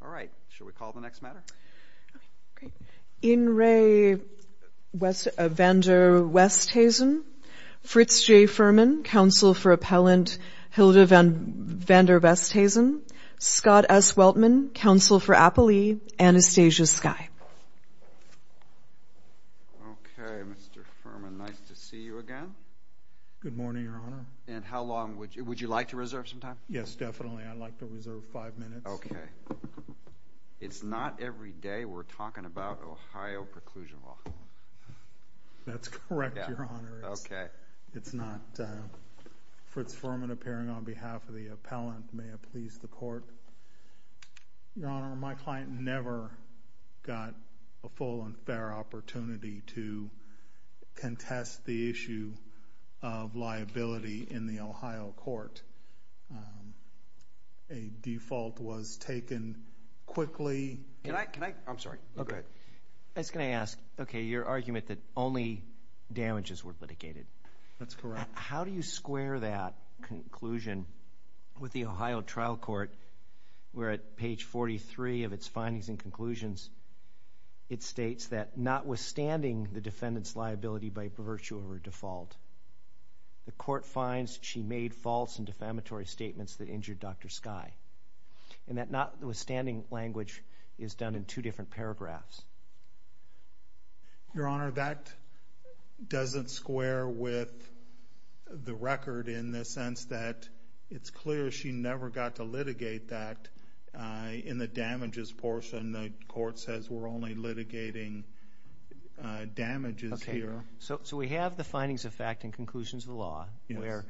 All right, should we call the next matter? In re Westhuizen Fritz J. Fuhrman, counsel for appellant Hilda van Van der Westhuizen Scott S. Weltman, counsel for appellee Anastasia Skye Good morning, your honor. And how long would you would you like to reserve some time? Yes, definitely. I'd like to reserve five minutes Okay It's not every day. We're talking about Ohio preclusion law That's correct, your honor. Okay, it's not Fritz Furman appearing on behalf of the appellant may have pleased the court Your honor my client never got a full and fair opportunity to contest the issue of liability in the Ohio court a Default was taken Quickly, and I can I I'm sorry. Okay, that's gonna ask. Okay your argument that only Damages were litigated. That's correct. How do you square that? conclusion with the Ohio trial court We're at page 43 of its findings and conclusions It states that notwithstanding the defendant's liability by virtue of her default The court finds she made false and defamatory statements that injured. Dr. Skye And that notwithstanding language is done in two different paragraphs Your honor that doesn't square with The record in the sense that it's clear. She never got to litigate that In the damages portion the court says we're only litigating Damages here. So so we have the findings of fact and conclusions of the law where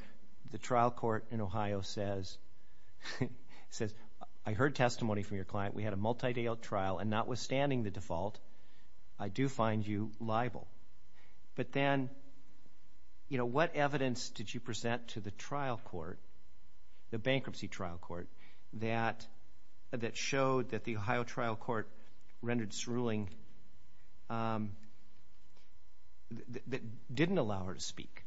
the trial court in Ohio says It says I heard testimony from your client we had a multi-day trial and notwithstanding the default I do find you liable but then You know, what evidence did you present to the trial court? the bankruptcy trial court that That showed that the Ohio trial court rendered its ruling Didn't allow her to speak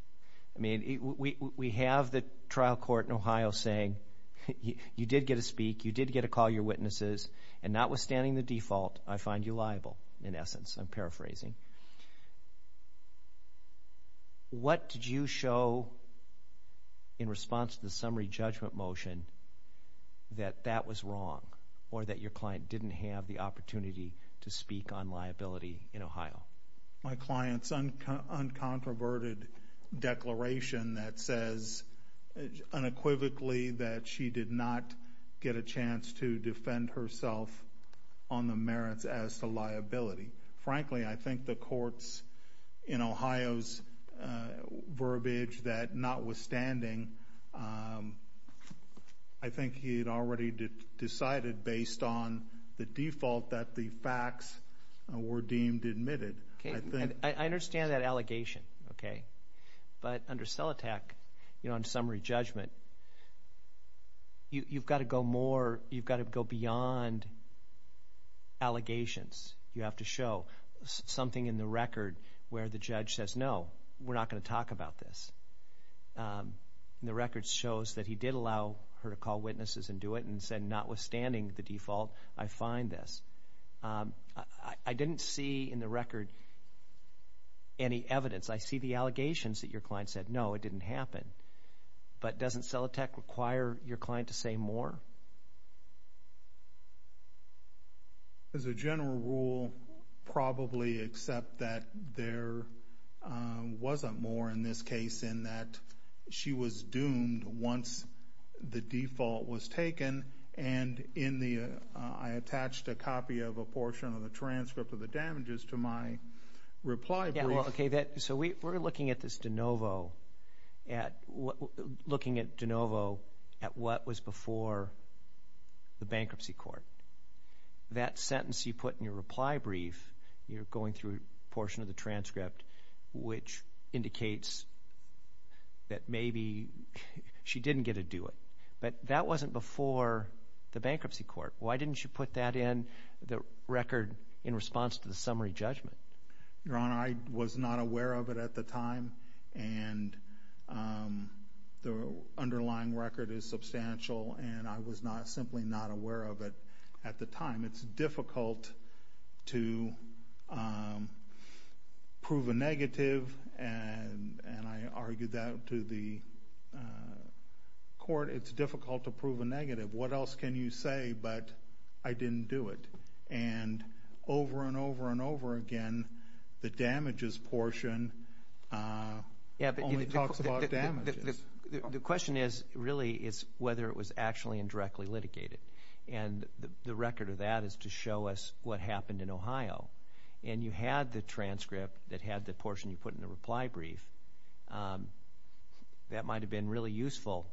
I mean we have the trial court in Ohio saying You did get a speak. You did get a call your witnesses and notwithstanding the default. I find you liable in essence. I'm paraphrasing What did you show in response to the summary judgment motion That that was wrong or that your client didn't have the opportunity to speak on liability in Ohio my clients uncontroverted declaration that says Unequivocally that she did not get a chance to defend herself on the merits as to liability Frankly, I think the courts in Ohio's Verbiage that notwithstanding I Think he had already Decided based on the default that the facts were deemed admitted. Okay, I understand that allegation Okay, but under cell attack, you know in summary judgment You've got to go more you've got to go beyond Allegations you have to show something in the record where the judge says no, we're not going to talk about this The records shows that he did allow her to call witnesses and do it and said notwithstanding the default I find this I didn't see in the record Any evidence I see the allegations that your client said no it didn't happen But doesn't sell a tech require your client to say more As a general rule probably accept that there Wasn't more in this case in that She was doomed once the default was taken and in the I attached a copy of a portion of the transcript of the damages to my Reply, okay that so we were looking at this de novo at Looking at de novo at what was before the bankruptcy court That sentence you put in your reply brief. You're going through a portion of the transcript which indicates that maybe She didn't get to do it, but that wasn't before the bankruptcy court Why didn't you put that in the record in response to the summary judgment? your honor I was not aware of it at the time and The underlying record is substantial, and I was not simply not aware of it at the time. It's difficult to Prove a negative and and I argued that to the Court it's difficult to prove a negative. What else can you say, but I didn't do it and Over and over and over again the damages portion Yeah The question is really is whether it was actually indirectly litigated and The record of that is to show us what happened in Ohio and you had the transcript that had the portion you put in the reply brief That might have been really useful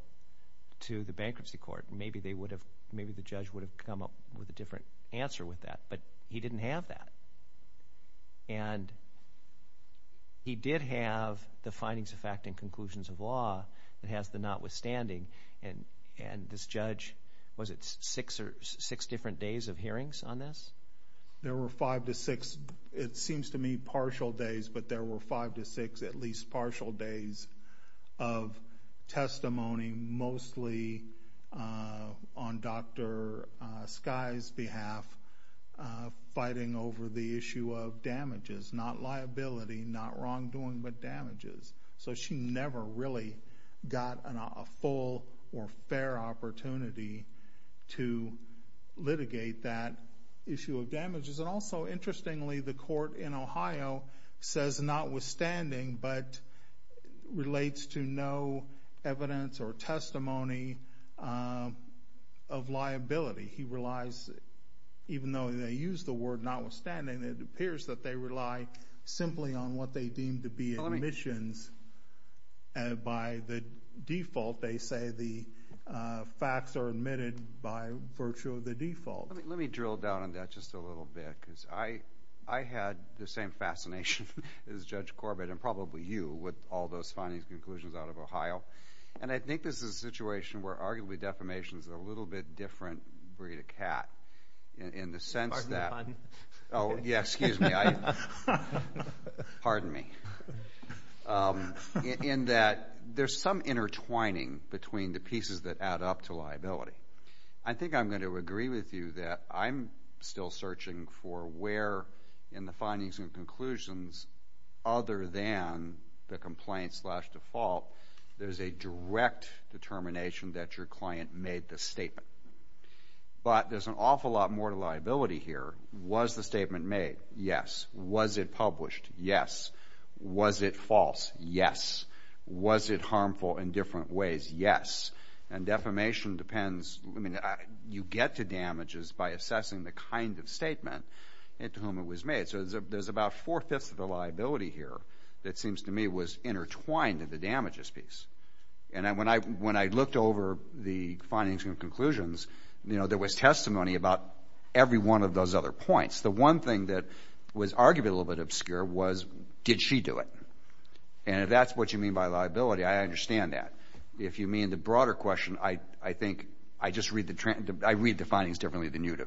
To the bankruptcy court, maybe they would have maybe the judge would have come up with a different answer with that but he didn't have that and He did have the findings of fact and conclusions of law that has the notwithstanding and And this judge was it six or six different days of hearings on this There were five to six. It seems to me partial days, but there were five to six at least partial days of Testimony mostly on dr. Skye's behalf Fighting over the issue of damages not liability not wrongdoing, but damages so she never really got a full or fair opportunity to Litigate that issue of damages and also interestingly the court in Ohio says notwithstanding but relates to no evidence or testimony of Reliability he relies Even though they use the word notwithstanding. It appears that they rely simply on what they deem to be emissions by the default they say the facts are admitted by virtue of the default let me drill down on that just a little bit because I I Had the same fascination as judge Corbett and probably you with all those findings conclusions out of Ohio And I think this is a situation where arguably defamation is a little bit different breed of cat In the sense that oh, yes Pardon me In that there's some intertwining between the pieces that add up to liability I think I'm going to agree with you that I'm still searching for where in the findings and conclusions Other than the complaint slash default there's a direct determination that your client made the statement But there's an awful lot more liability here was the statement made yes, was it published yes? Was it false yes? Was it harmful in different ways yes and defamation depends? I mean you get to damages by assessing the kind of statement into whom it was made There's about four-fifths of the liability here that seems to me was intertwined in the damages piece And I when I when I looked over the findings and conclusions You know there was testimony about Every one of those other points the one thing that was arguably a little bit obscure was did she do it? And if that's what you mean by liability I understand that if you mean the broader question I I think I just read the trend I read the findings differently than you do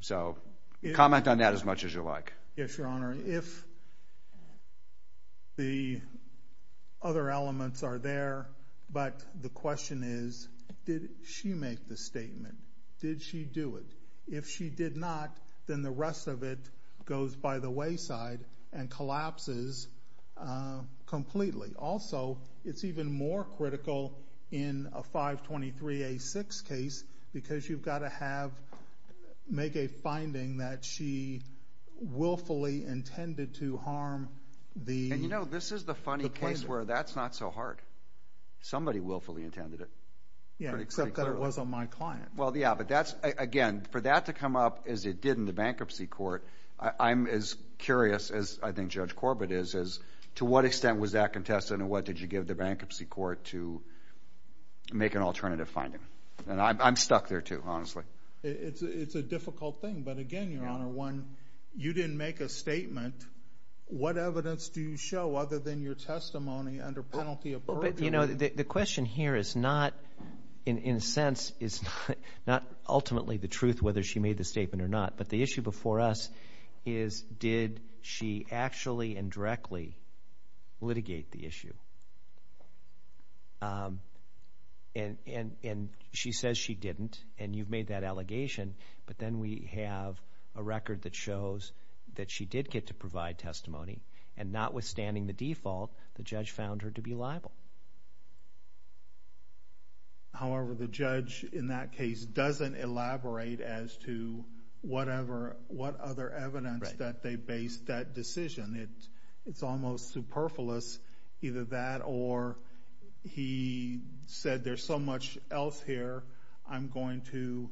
So comment on that as much as you like yes, your honor if The Other elements are there, but the question is did she make the statement? Did she do it if she did not then the rest of it goes by the wayside and collapses? Completely also, it's even more critical in a 523 a 6 case because you've got to have make a finding that she Willfully intended to harm the you know this is the funny place where that's not so hard Somebody willfully intended it yeah, except that it wasn't my client well Yeah, but that's again for that to come up as it did in the bankruptcy court I'm as curious as I think judge Corbett is is to what extent was that contested and what did you give the bankruptcy court to? Make an alternative finding and I'm stuck there too. Honestly. It's it's a difficult thing, but again your honor one You didn't make a statement What evidence do you show other than your testimony under penalty of you know the question here is not in Sense is not ultimately the truth whether she made the statement or not, but the issue before us is Did she actually and directly? litigate the issue And and and she says she didn't and you've made that allegation But then we have a record that shows that she did get to provide testimony and not withstanding the default The judge found her to be liable However the judge in that case doesn't elaborate as to Whatever what other evidence that they based that decision it it's almost superfluous either that or He Said there's so much else here. I'm going to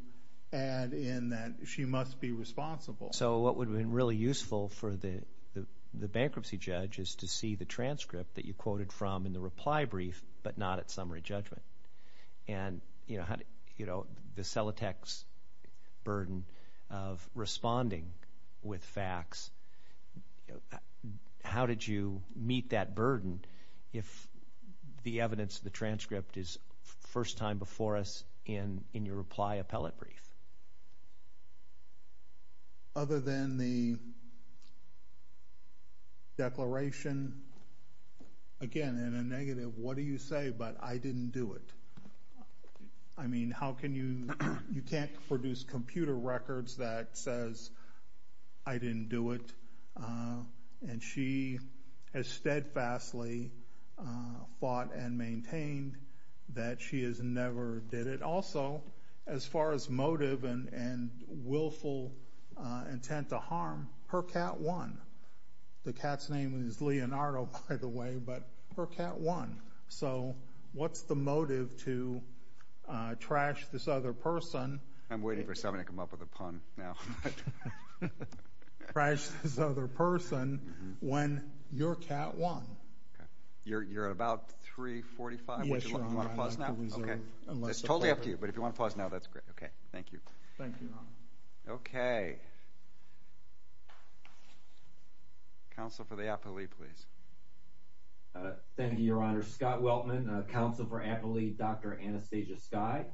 add in that she must be responsible So what would have been really useful for the the bankruptcy judge is to see the transcript that you quoted from in the reply brief but not at summary judgment and You know how you know the cell attacks burden of responding with facts How did you meet that burden if The evidence the transcript is first time before us in in your reply appellate brief Other than the Declaration Again in a negative. What do you say, but I didn't do it I Mean, how can you you can't produce computer records that says I? Didn't do it And she has steadfastly Fought and maintained that she has never did it also as far as motive and and willful intent to harm her cat one The cat's name is Leonardo by the way, but her cat one. So what's the motive to? Trash this other person. I'm waiting for something to come up with a pun now Crash this other person when your cat one You're about 345 It's totally up to you, but if you want to pause now, that's great. Okay. Thank you. Thank you. Okay Counsel for the Apple II, please Thank You Your Honor Scott Weltman counsel for Apple II dr. Anastasia sky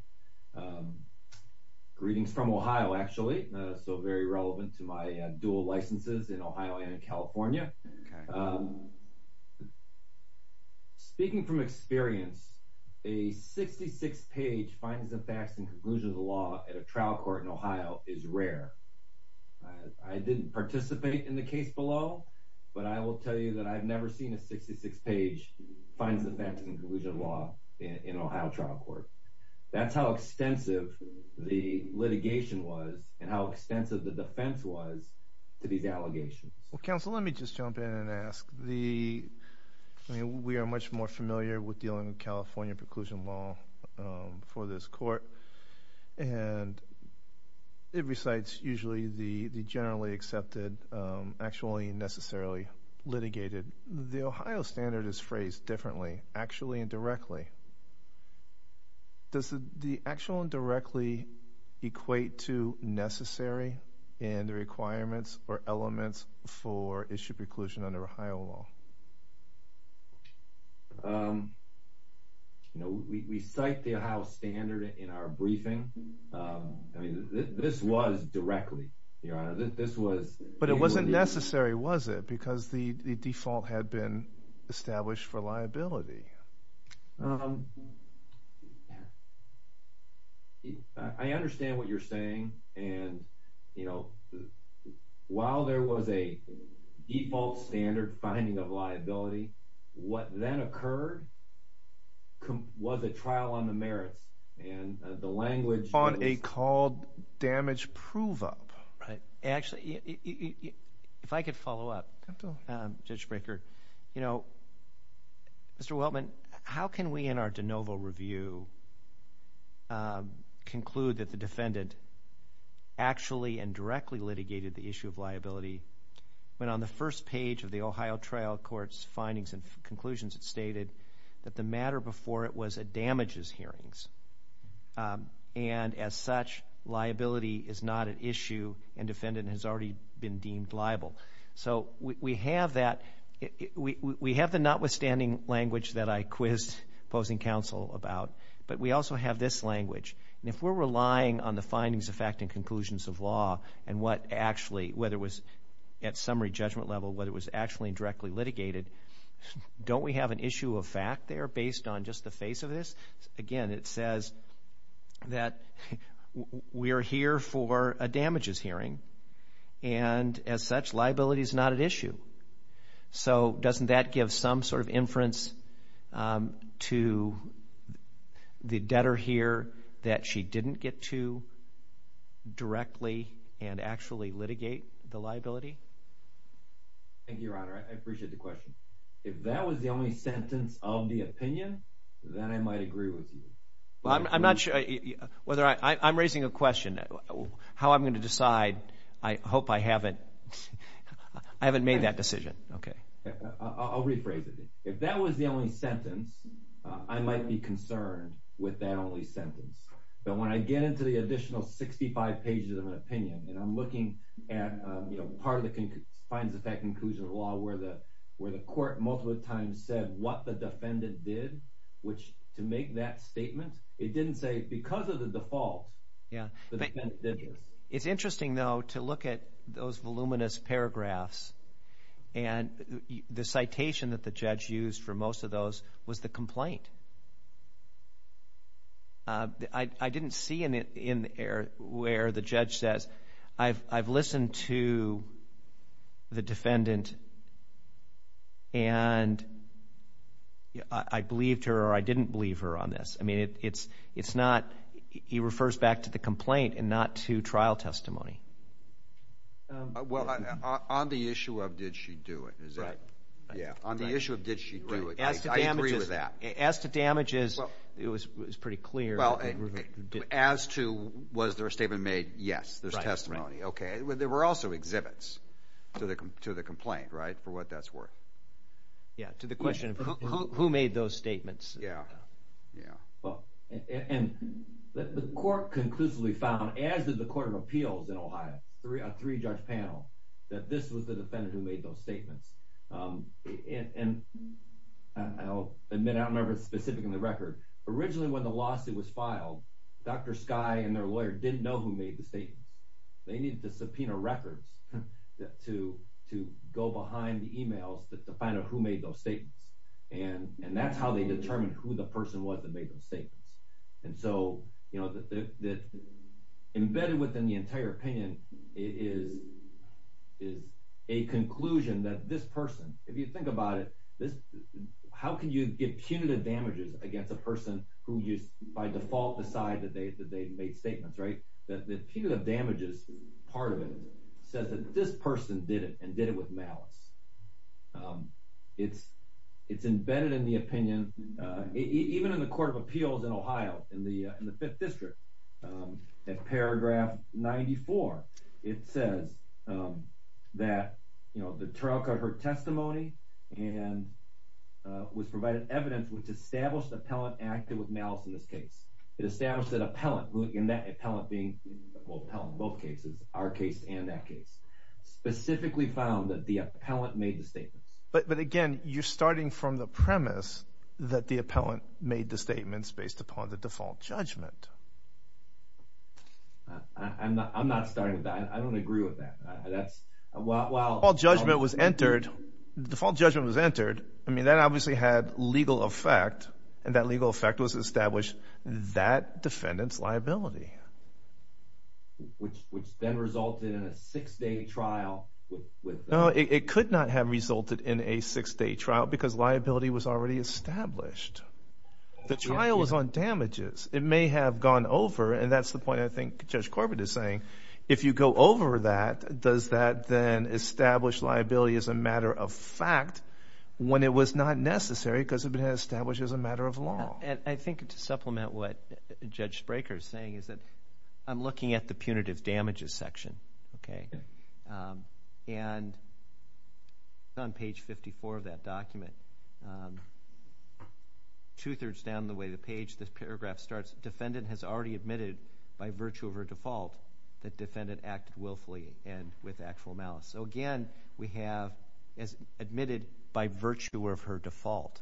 Greetings from Ohio actually so very relevant to my dual licenses in Ohio and in California Speaking from experience a 66 page finds the facts and conclusions of the law at a trial court in Ohio is rare. I Didn't participate in the case below, but I will tell you that I've never seen a 66 page Finds the facts and conclusions of law in Ohio trial court. That's how extensive The litigation was and how extensive the defense was to these allegations. Well counsel. Let me just jump in and ask the We are much more familiar with dealing with California preclusion law for this court and It recites usually the the generally accepted actually necessarily Litigated the Ohio standard is phrased differently actually and directly Does the the actual and directly equate to Necessary and the requirements or elements for issue preclusion under Ohio law You Know we cite the Ohio standard in our briefing I mean this was directly your honor. This was but it wasn't necessary Was it because the default had been established for liability? I understand what you're saying and you know while there was a Default standard finding of liability What then occurred? Was a trial on the merits and the language on a called damage prove-up, right actually If I could follow up Judge Brekker, you know Mr. Weltman, how can we in our de novo review? Conclude that the defendant Actually and directly litigated the issue of liability When on the first page of the Ohio trial courts findings and conclusions, it stated that the matter before it was a damages hearings and as such Liability is not an issue and defendant has already been deemed liable. So we have that We we have the notwithstanding language that I quizzed opposing counsel about but we also have this language And if we're relying on the findings of fact and conclusions of law and what actually whether it was at summary judgment level Whether it was actually directly litigated Don't we have an issue of fact there based on just the face of this again. It says that we're here for a damages hearing and As such liability is not an issue So doesn't that give some sort of inference? to The debtor here that she didn't get to Directly and actually litigate the liability Thank you, your honor. I appreciate the question if that was the only sentence of the opinion then I might agree with you Well, I'm not sure whether I I'm raising a question How I'm going to decide I hope I haven't I haven't made that decision. Okay I'll rephrase it if that was the only sentence I might be concerned with that only sentence But when I get into the additional 65 pages of an opinion and I'm looking at you know Part of the king finds the fact inclusion of law where the where the court multiple times said what the defendant did Which to make that statement it didn't say because of the default. Yeah it's interesting though to look at those voluminous paragraphs and The citation that the judge used for most of those was the complaint I didn't see in it in the air where the judge says I've I've listened to the defendant and I Believed her or I didn't believe her on this. I mean, it's it's not he refers back to the complaint and not to trial testimony Well on the issue of did she do it is that yeah on the issue of did she Asked the damages. It was pretty clear. Well as to was there a statement made? Yes, there's testimony Okay, well, there were also exhibits to the to the complaint right for what that's worth Yeah to the question who made those statements. Yeah And the court conclusively found as did the Court of Appeals in Ohio three on three judge panel that this was the defendant who made those statements and Then I remember specific in the record originally when the lawsuit was filed Dr. Skye and their lawyer didn't know who made the statement. They needed to subpoena records to to go behind the emails that the final who made those statements and That's how they determine who the person was that made those statements. And so, you know that embedded within the entire opinion is Is a conclusion that this person if you think about it this How can you get punitive damages against a person who used by default decide that they that they've made statements, right? That the punitive damages part of it says that this person did it and did it with malice It's it's embedded in the opinion Even in the Court of Appeals in Ohio in the in the 5th district at paragraph 94 it says that you know the trial covered testimony and Was provided evidence which established appellant acted with malice in this case It established that appellant in that appellant being both cases our case and that case Specifically found that the appellant made the statements But but again, you're starting from the premise that the appellant made the statements based upon the default judgment I'm not I'm not starting with that. I don't agree with that. That's well Well all judgment was entered the default judgment was entered I mean that obviously had legal effect and that legal effect was established that defendants liability Which which then resulted in a six-day trial No, it could not have resulted in a six-day trial because liability was already established The trial was on damages. It may have gone over and that's the point I think judge Corbett is saying if you go over that does that then establish liability as a matter of fact? When it was not necessary because of it has established as a matter of law I think to supplement what judge Spraker is saying is that I'm looking at the punitive damages section, okay? and On page 54 of that document Two-thirds down the way the page this paragraph starts defendant has already admitted by virtue of her default That defendant acted willfully and with actual malice. So again, we have as admitted by virtue of her default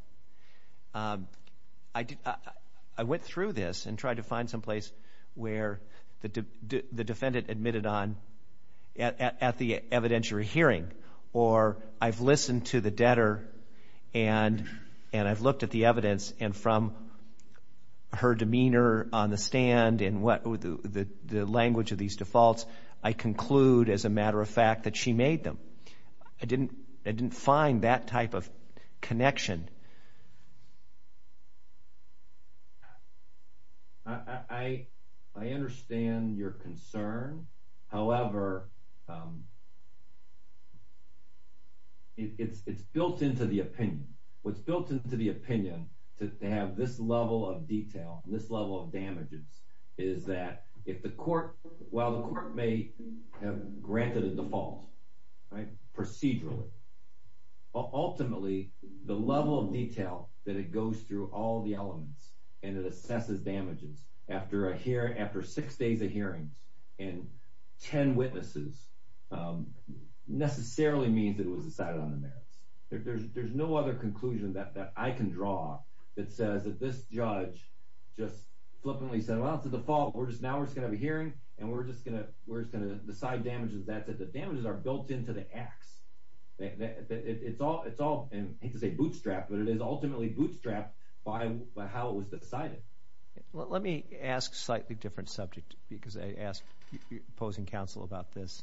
I Did I went through this and tried to find some place where the defendant admitted on? at the evidentiary hearing or I've listened to the debtor and and I've looked at the evidence and from her demeanor on the stand and what the the language of these defaults I Conclude as a matter of fact that she made them. I didn't I didn't find that type of connection I I understand your concern. However It's it's built into the opinion what's built into the opinion to have this level of detail this level of damages is That if the court while the court may have granted a default right procedurally Ultimately the level of detail that it goes through all the elements and it assesses damages after I hear after six days of hearings and ten witnesses Necessarily means it was decided on the merits There's no other conclusion that I can draw that says that this judge just Flippantly said well, it's a default We're just now we're just gonna be hearing and we're just gonna we're just gonna decide damages That's it. The damages are built into the acts That it's all it's all and it's a bootstrap, but it is ultimately bootstrap by how it was decided Let me ask slightly different subject because I asked your opposing counsel about this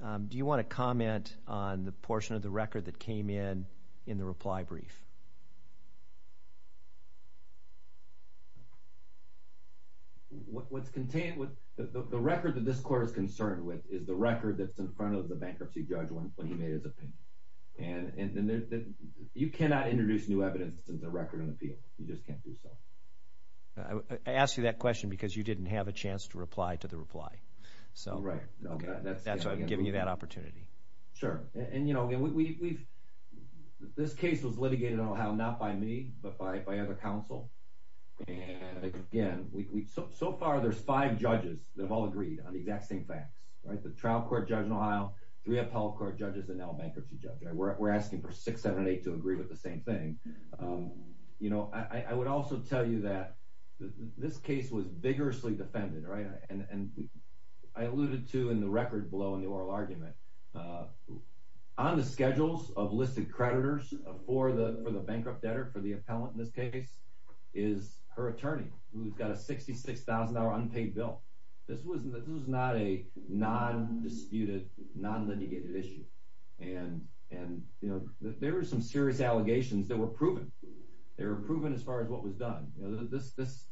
Do you want to comment on the portion of the record that came in in the reply brief? What's contained with the record that this court is concerned with is the record that's in front of the bankruptcy judge and You cannot introduce new evidence in the record in the field. You just can't do so Ask you that question because you didn't have a chance to reply to the reply. So right That's why I'm giving you that opportunity. Sure, and you know, we've This case was litigated on how not by me, but by if I have a counsel Again, we so far there's five judges that have all agreed on the exact same facts, right? The trial court judge in Ohio three appellate court judges and now bankruptcy judge. We're asking for six seven eight to agree with the same thing you know, I would also tell you that this case was vigorously defended right and and I alluded to in the record below in the oral argument on the schedules of listed creditors for the for the bankrupt debtor for the appellant in this case is Her attorney who's got a sixty six thousand dollar unpaid bill. This was this was not a Non-disputed non-litigated issue and and you know, there were some serious allegations that were proven They were proven as far as what was done. This this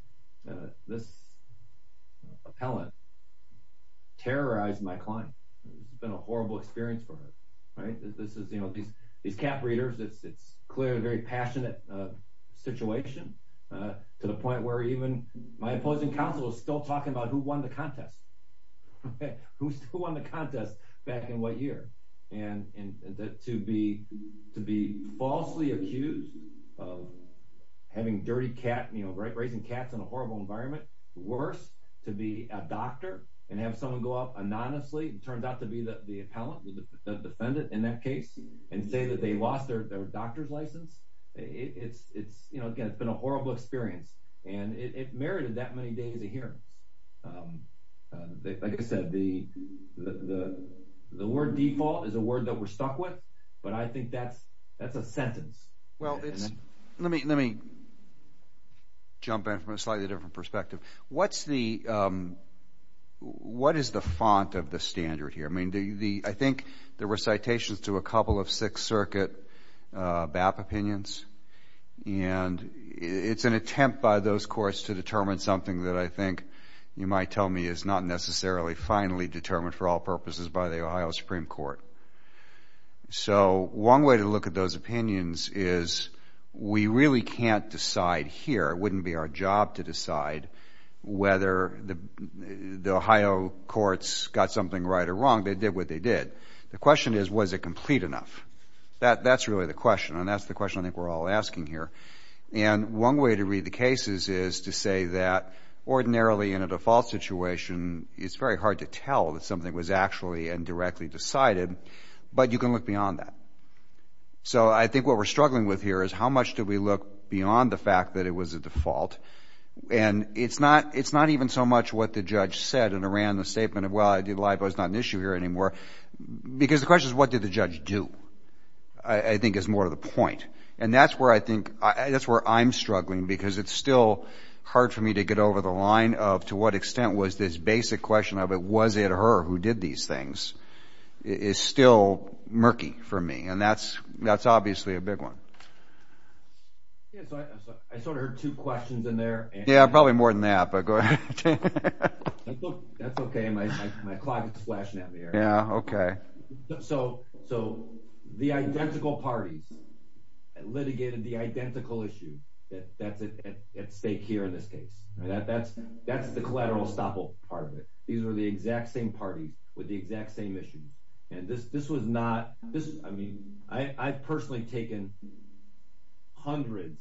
this appellant Terrorized my client. It's been a horrible experience for her, right? This is you know, these these cap readers. It's it's clearly very passionate Situation to the point where even my opposing counsel is still talking about who won the contest Who's won the contest back in what year and and that to be to be falsely accused of Having dirty cat, you know, right raising cats in a horrible environment Worse to be a doctor and have someone go up anonymously. It turned out to be that the appellant Defendant in that case and say that they lost their doctor's license It's it's you know, it's been a horrible experience and it merited that many days of hearings They said the The word default is a word that we're stuck with but I think that's that's a sentence. Well, it's let me let me Jump in from a slightly different perspective. What's the What is the font of the standard here, I mean do you the I think there were citations to a couple of Sixth Circuit BAP opinions and It's an attempt by those courts to determine something that I think you might tell me is not necessarily Finally determined for all purposes by the Ohio Supreme Court so one way to look at those opinions is We really can't decide here. It wouldn't be our job to decide whether the The Ohio courts got something right or wrong. They did what they did. The question is was it complete enough? That that's really the question and that's the question. I think we're all asking here and One way to read the cases is to say that Ordinarily in a default situation, it's very hard to tell that something was actually and directly decided but you can look beyond that So I think what we're struggling with here is how much do we look beyond the fact that it was a default? And it's not it's not even so much what the judge said in Iran the statement of well I did live I was not an issue here anymore Because the question is what did the judge do? I think is more of the point and that's where I think that's where I'm struggling because it's still Hard for me to get over the line of to what extent was this basic question of it was it her who did these things? Is still murky for me and that's that's obviously a big one Yeah, probably more than that but go ahead Yeah, okay, so so the identical parties Litigated the identical issue that that's it at stake here in this case that that's that's the collateral estoppel part of it These are the exact same party with the exact same issue and this this was not this I mean, I I've personally taken Hundreds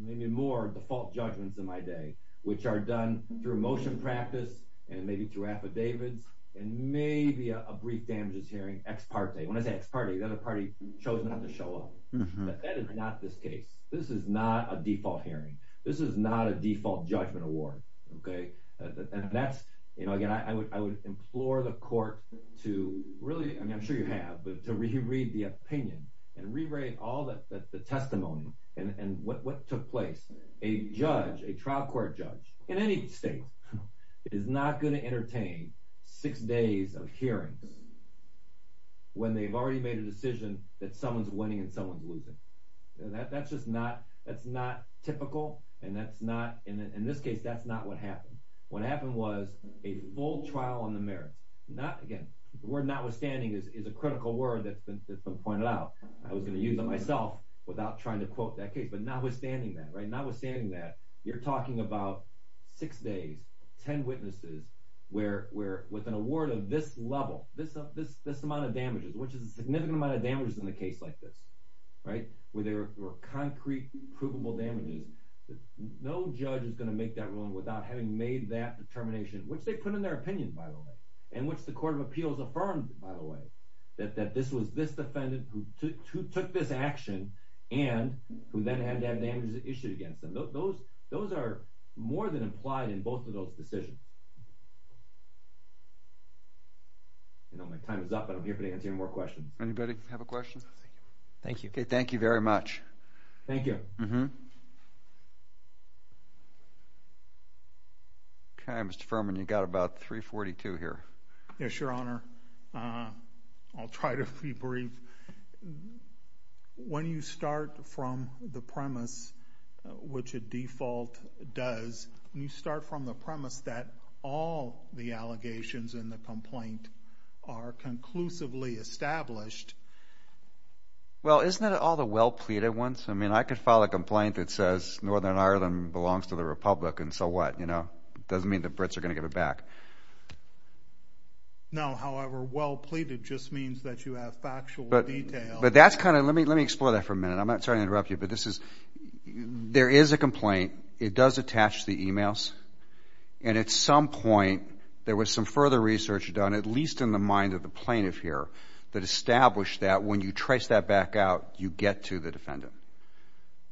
maybe more default judgments in my day which are done through motion practice and maybe through affidavits and Maybe a brief damages hearing ex parte when I say it's party the other party chose not to show up That is not this case. This is not a default hearing. This is not a default judgment award Okay, and that's you know again I would implore the court to really I mean I'm sure you have but to reread the opinion and rewrite all that the testimony and what took place a Judge a trial court judge in any state Is not going to entertain six days of hearings When they've already made a decision that someone's winning and someone's losing That's just not that's not typical and that's not in this case That's not what happened. What happened was a full trial on the merits not again We're notwithstanding is a critical word that's been pointed out I was gonna use it myself without trying to quote that case, but notwithstanding that right now we're saying that you're talking about Six days ten witnesses where we're with an award of this level this up this this amount of damages Which is a significant amount of damages in the case like this, right where there were concrete provable damages No judge is gonna make that one without having made that determination Which they put in their opinion by the way and which the Court of Appeals affirmed by the way that that this was this defendant who took this action and Who then had to have damages issued against them those those are more than implied in both of those decisions You know my time is up, but I'm here for the answer more questions anybody have a question. Thank you. Okay. Thank you very much Thank you. Mm-hmm Okay, mr. Furman you got about 342 here. Yes your honor. I'll try to be brief When you start from the premise Which a default does you start from the premise that all the allegations in the complaint are? conclusively established Well isn't it all the well-pleaded ones I mean I could file a complaint that says Northern Ireland belongs to the Republic and so what you know Doesn't mean the Brits are gonna give it back No However, well pleaded just means that you have factual detail, but that's kind of let me let me explore that for a minute I'm not trying to interrupt you, but this is There is a complaint. It does attach the emails and At some point there was some further research done at least in the mind of the plaintiff here that established that when you trace that Back out you get to the defendant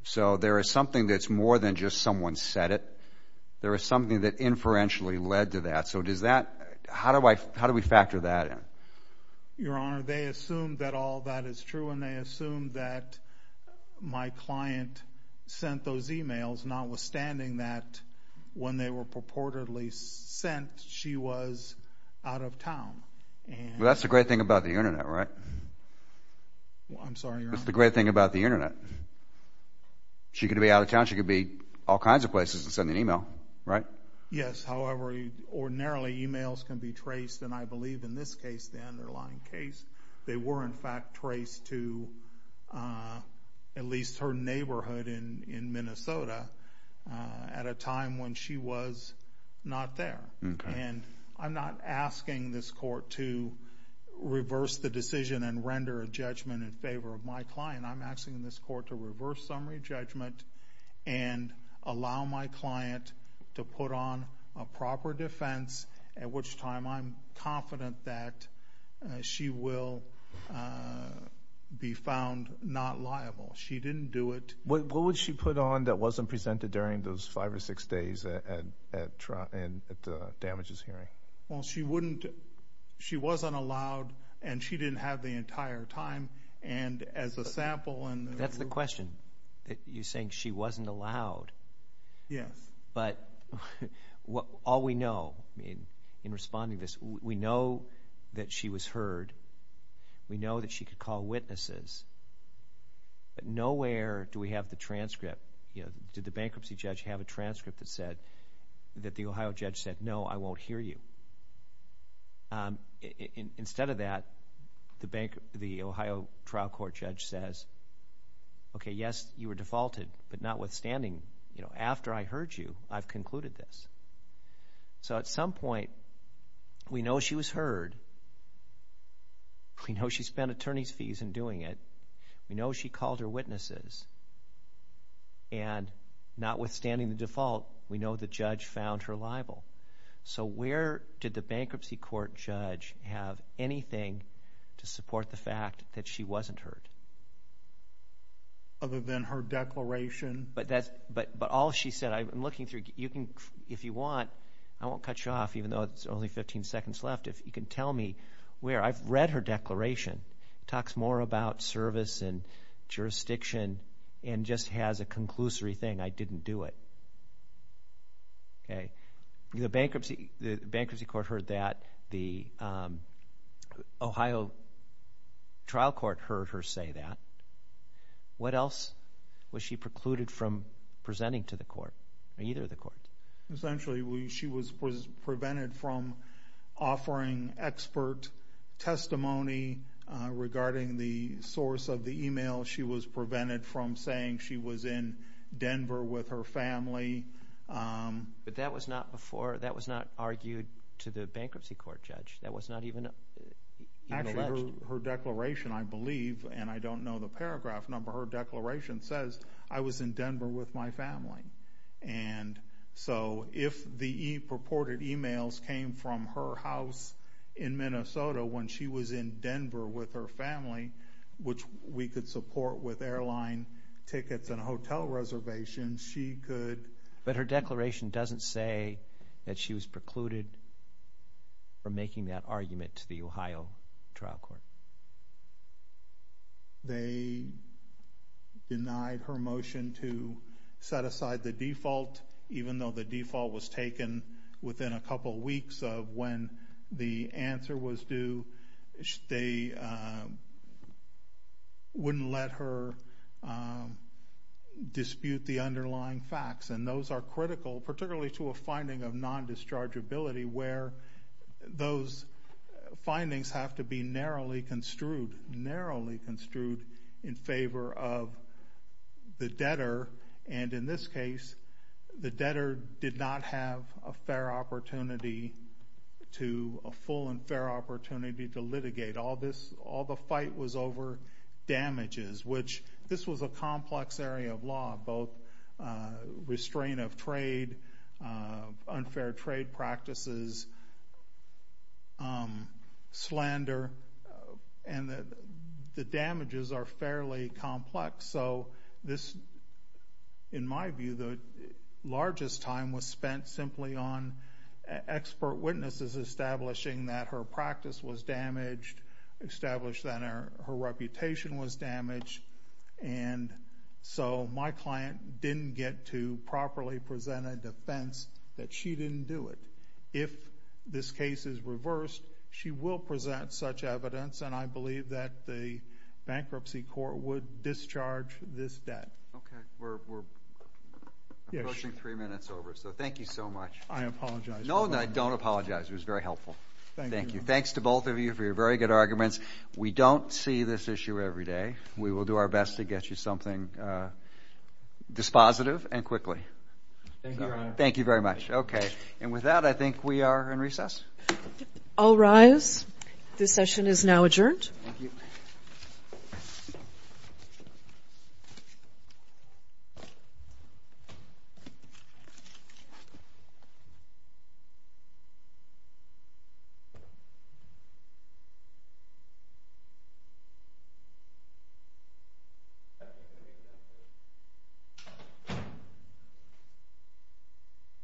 So there is something that's more than just someone said it There is something that inferentially led to that so does that how do I how do we factor that in? Your honor they assumed that all that is true, and they assumed that my client Sent those emails notwithstanding that when they were purportedly sent she was out of town That's the great thing about the Internet, right? I'm sorry. That's the great thing about the Internet She could be out of town she could be all kinds of places and send an email right yes However, you ordinarily emails can be traced, and I believe in this case the underlying case they were in fact traced to At least her neighborhood in in Minnesota At a time when she was not there, and I'm not asking this court to Reverse the decision and render a judgment in favor of my client. I'm asking in this court to reverse summary judgment and Allow my client to put on a proper defense at which time I'm confident that She will Be found not liable she didn't do it What would she put on that wasn't presented during those five or six days at at trial and at the damages hearing well? She wouldn't she wasn't allowed And she didn't have the entire time and as a sample, and that's the question that you're saying she wasn't allowed yes, but What all we know I mean in responding this we know that she was heard We know that she could call witnesses But nowhere do we have the transcript? You know did the bankruptcy judge have a transcript that said that the Ohio judge said no, I won't hear you In instead of that the bank the Ohio trial court judge says Okay, yes, you were defaulted, but notwithstanding. You know after I heard you I've concluded this So at some point We know she was heard We know she spent attorneys fees in doing it. We know she called her witnesses and Notwithstanding the default we know the judge found her liable So where did the bankruptcy court judge have anything to support the fact that she wasn't heard? Other than her declaration, but that's but but all she said I'm looking through you can if you want I won't cut you off even though it's only 15 seconds left if you can tell me where I've read her declaration talks more about service and Jurisdiction and just has a conclusory thing I didn't do it Okay, the bankruptcy the bankruptcy court heard that the Ohio Trial court heard her say that What else was she precluded from presenting to the court either the court? Essentially we she was was prevented from offering expert testimony Regarding the source of the email she was prevented from saying she was in Denver with her family But that was not before that was not argued to the bankruptcy court judge that was not even Her declaration I believe and I don't know the paragraph number her declaration says I was in Denver with my family and So if the e purported emails came from her house in Denver with her family, which we could support with airline tickets and hotel reservations She could but her declaration doesn't say that she was precluded From making that argument to the Ohio trial court They Denied her motion to Set aside the default even though the default was taken within a couple weeks of when the answer was due They Wouldn't let her Dispute the underlying facts and those are critical particularly to a finding of non-discharge ability where those findings have to be narrowly construed narrowly construed in favor of The debtor and in this case the debtor did not have a fair opportunity To a full and fair opportunity to litigate all this all the fight was over Damages, which this was a complex area of law both restraint of trade unfair trade practices Slander and that the damages are fairly complex. So this in my view the Largest time was spent simply on Expert witnesses establishing that her practice was damaged established that her reputation was damaged and So my client didn't get to properly present a defense that she didn't do it if this case is reversed, she will present such evidence and I believe that the Bankruptcy court would discharge this debt. Okay, we're Yes, three minutes over so thank you so much I apologize. No, I don't apologize. It was very helpful. Thank you Thanks to both of you for your very good arguments. We don't see this issue every day. We will do our best to get you something Dispositive and quickly Thank you very much. Okay, and with that I think we are in recess all rise. This session is now adjourned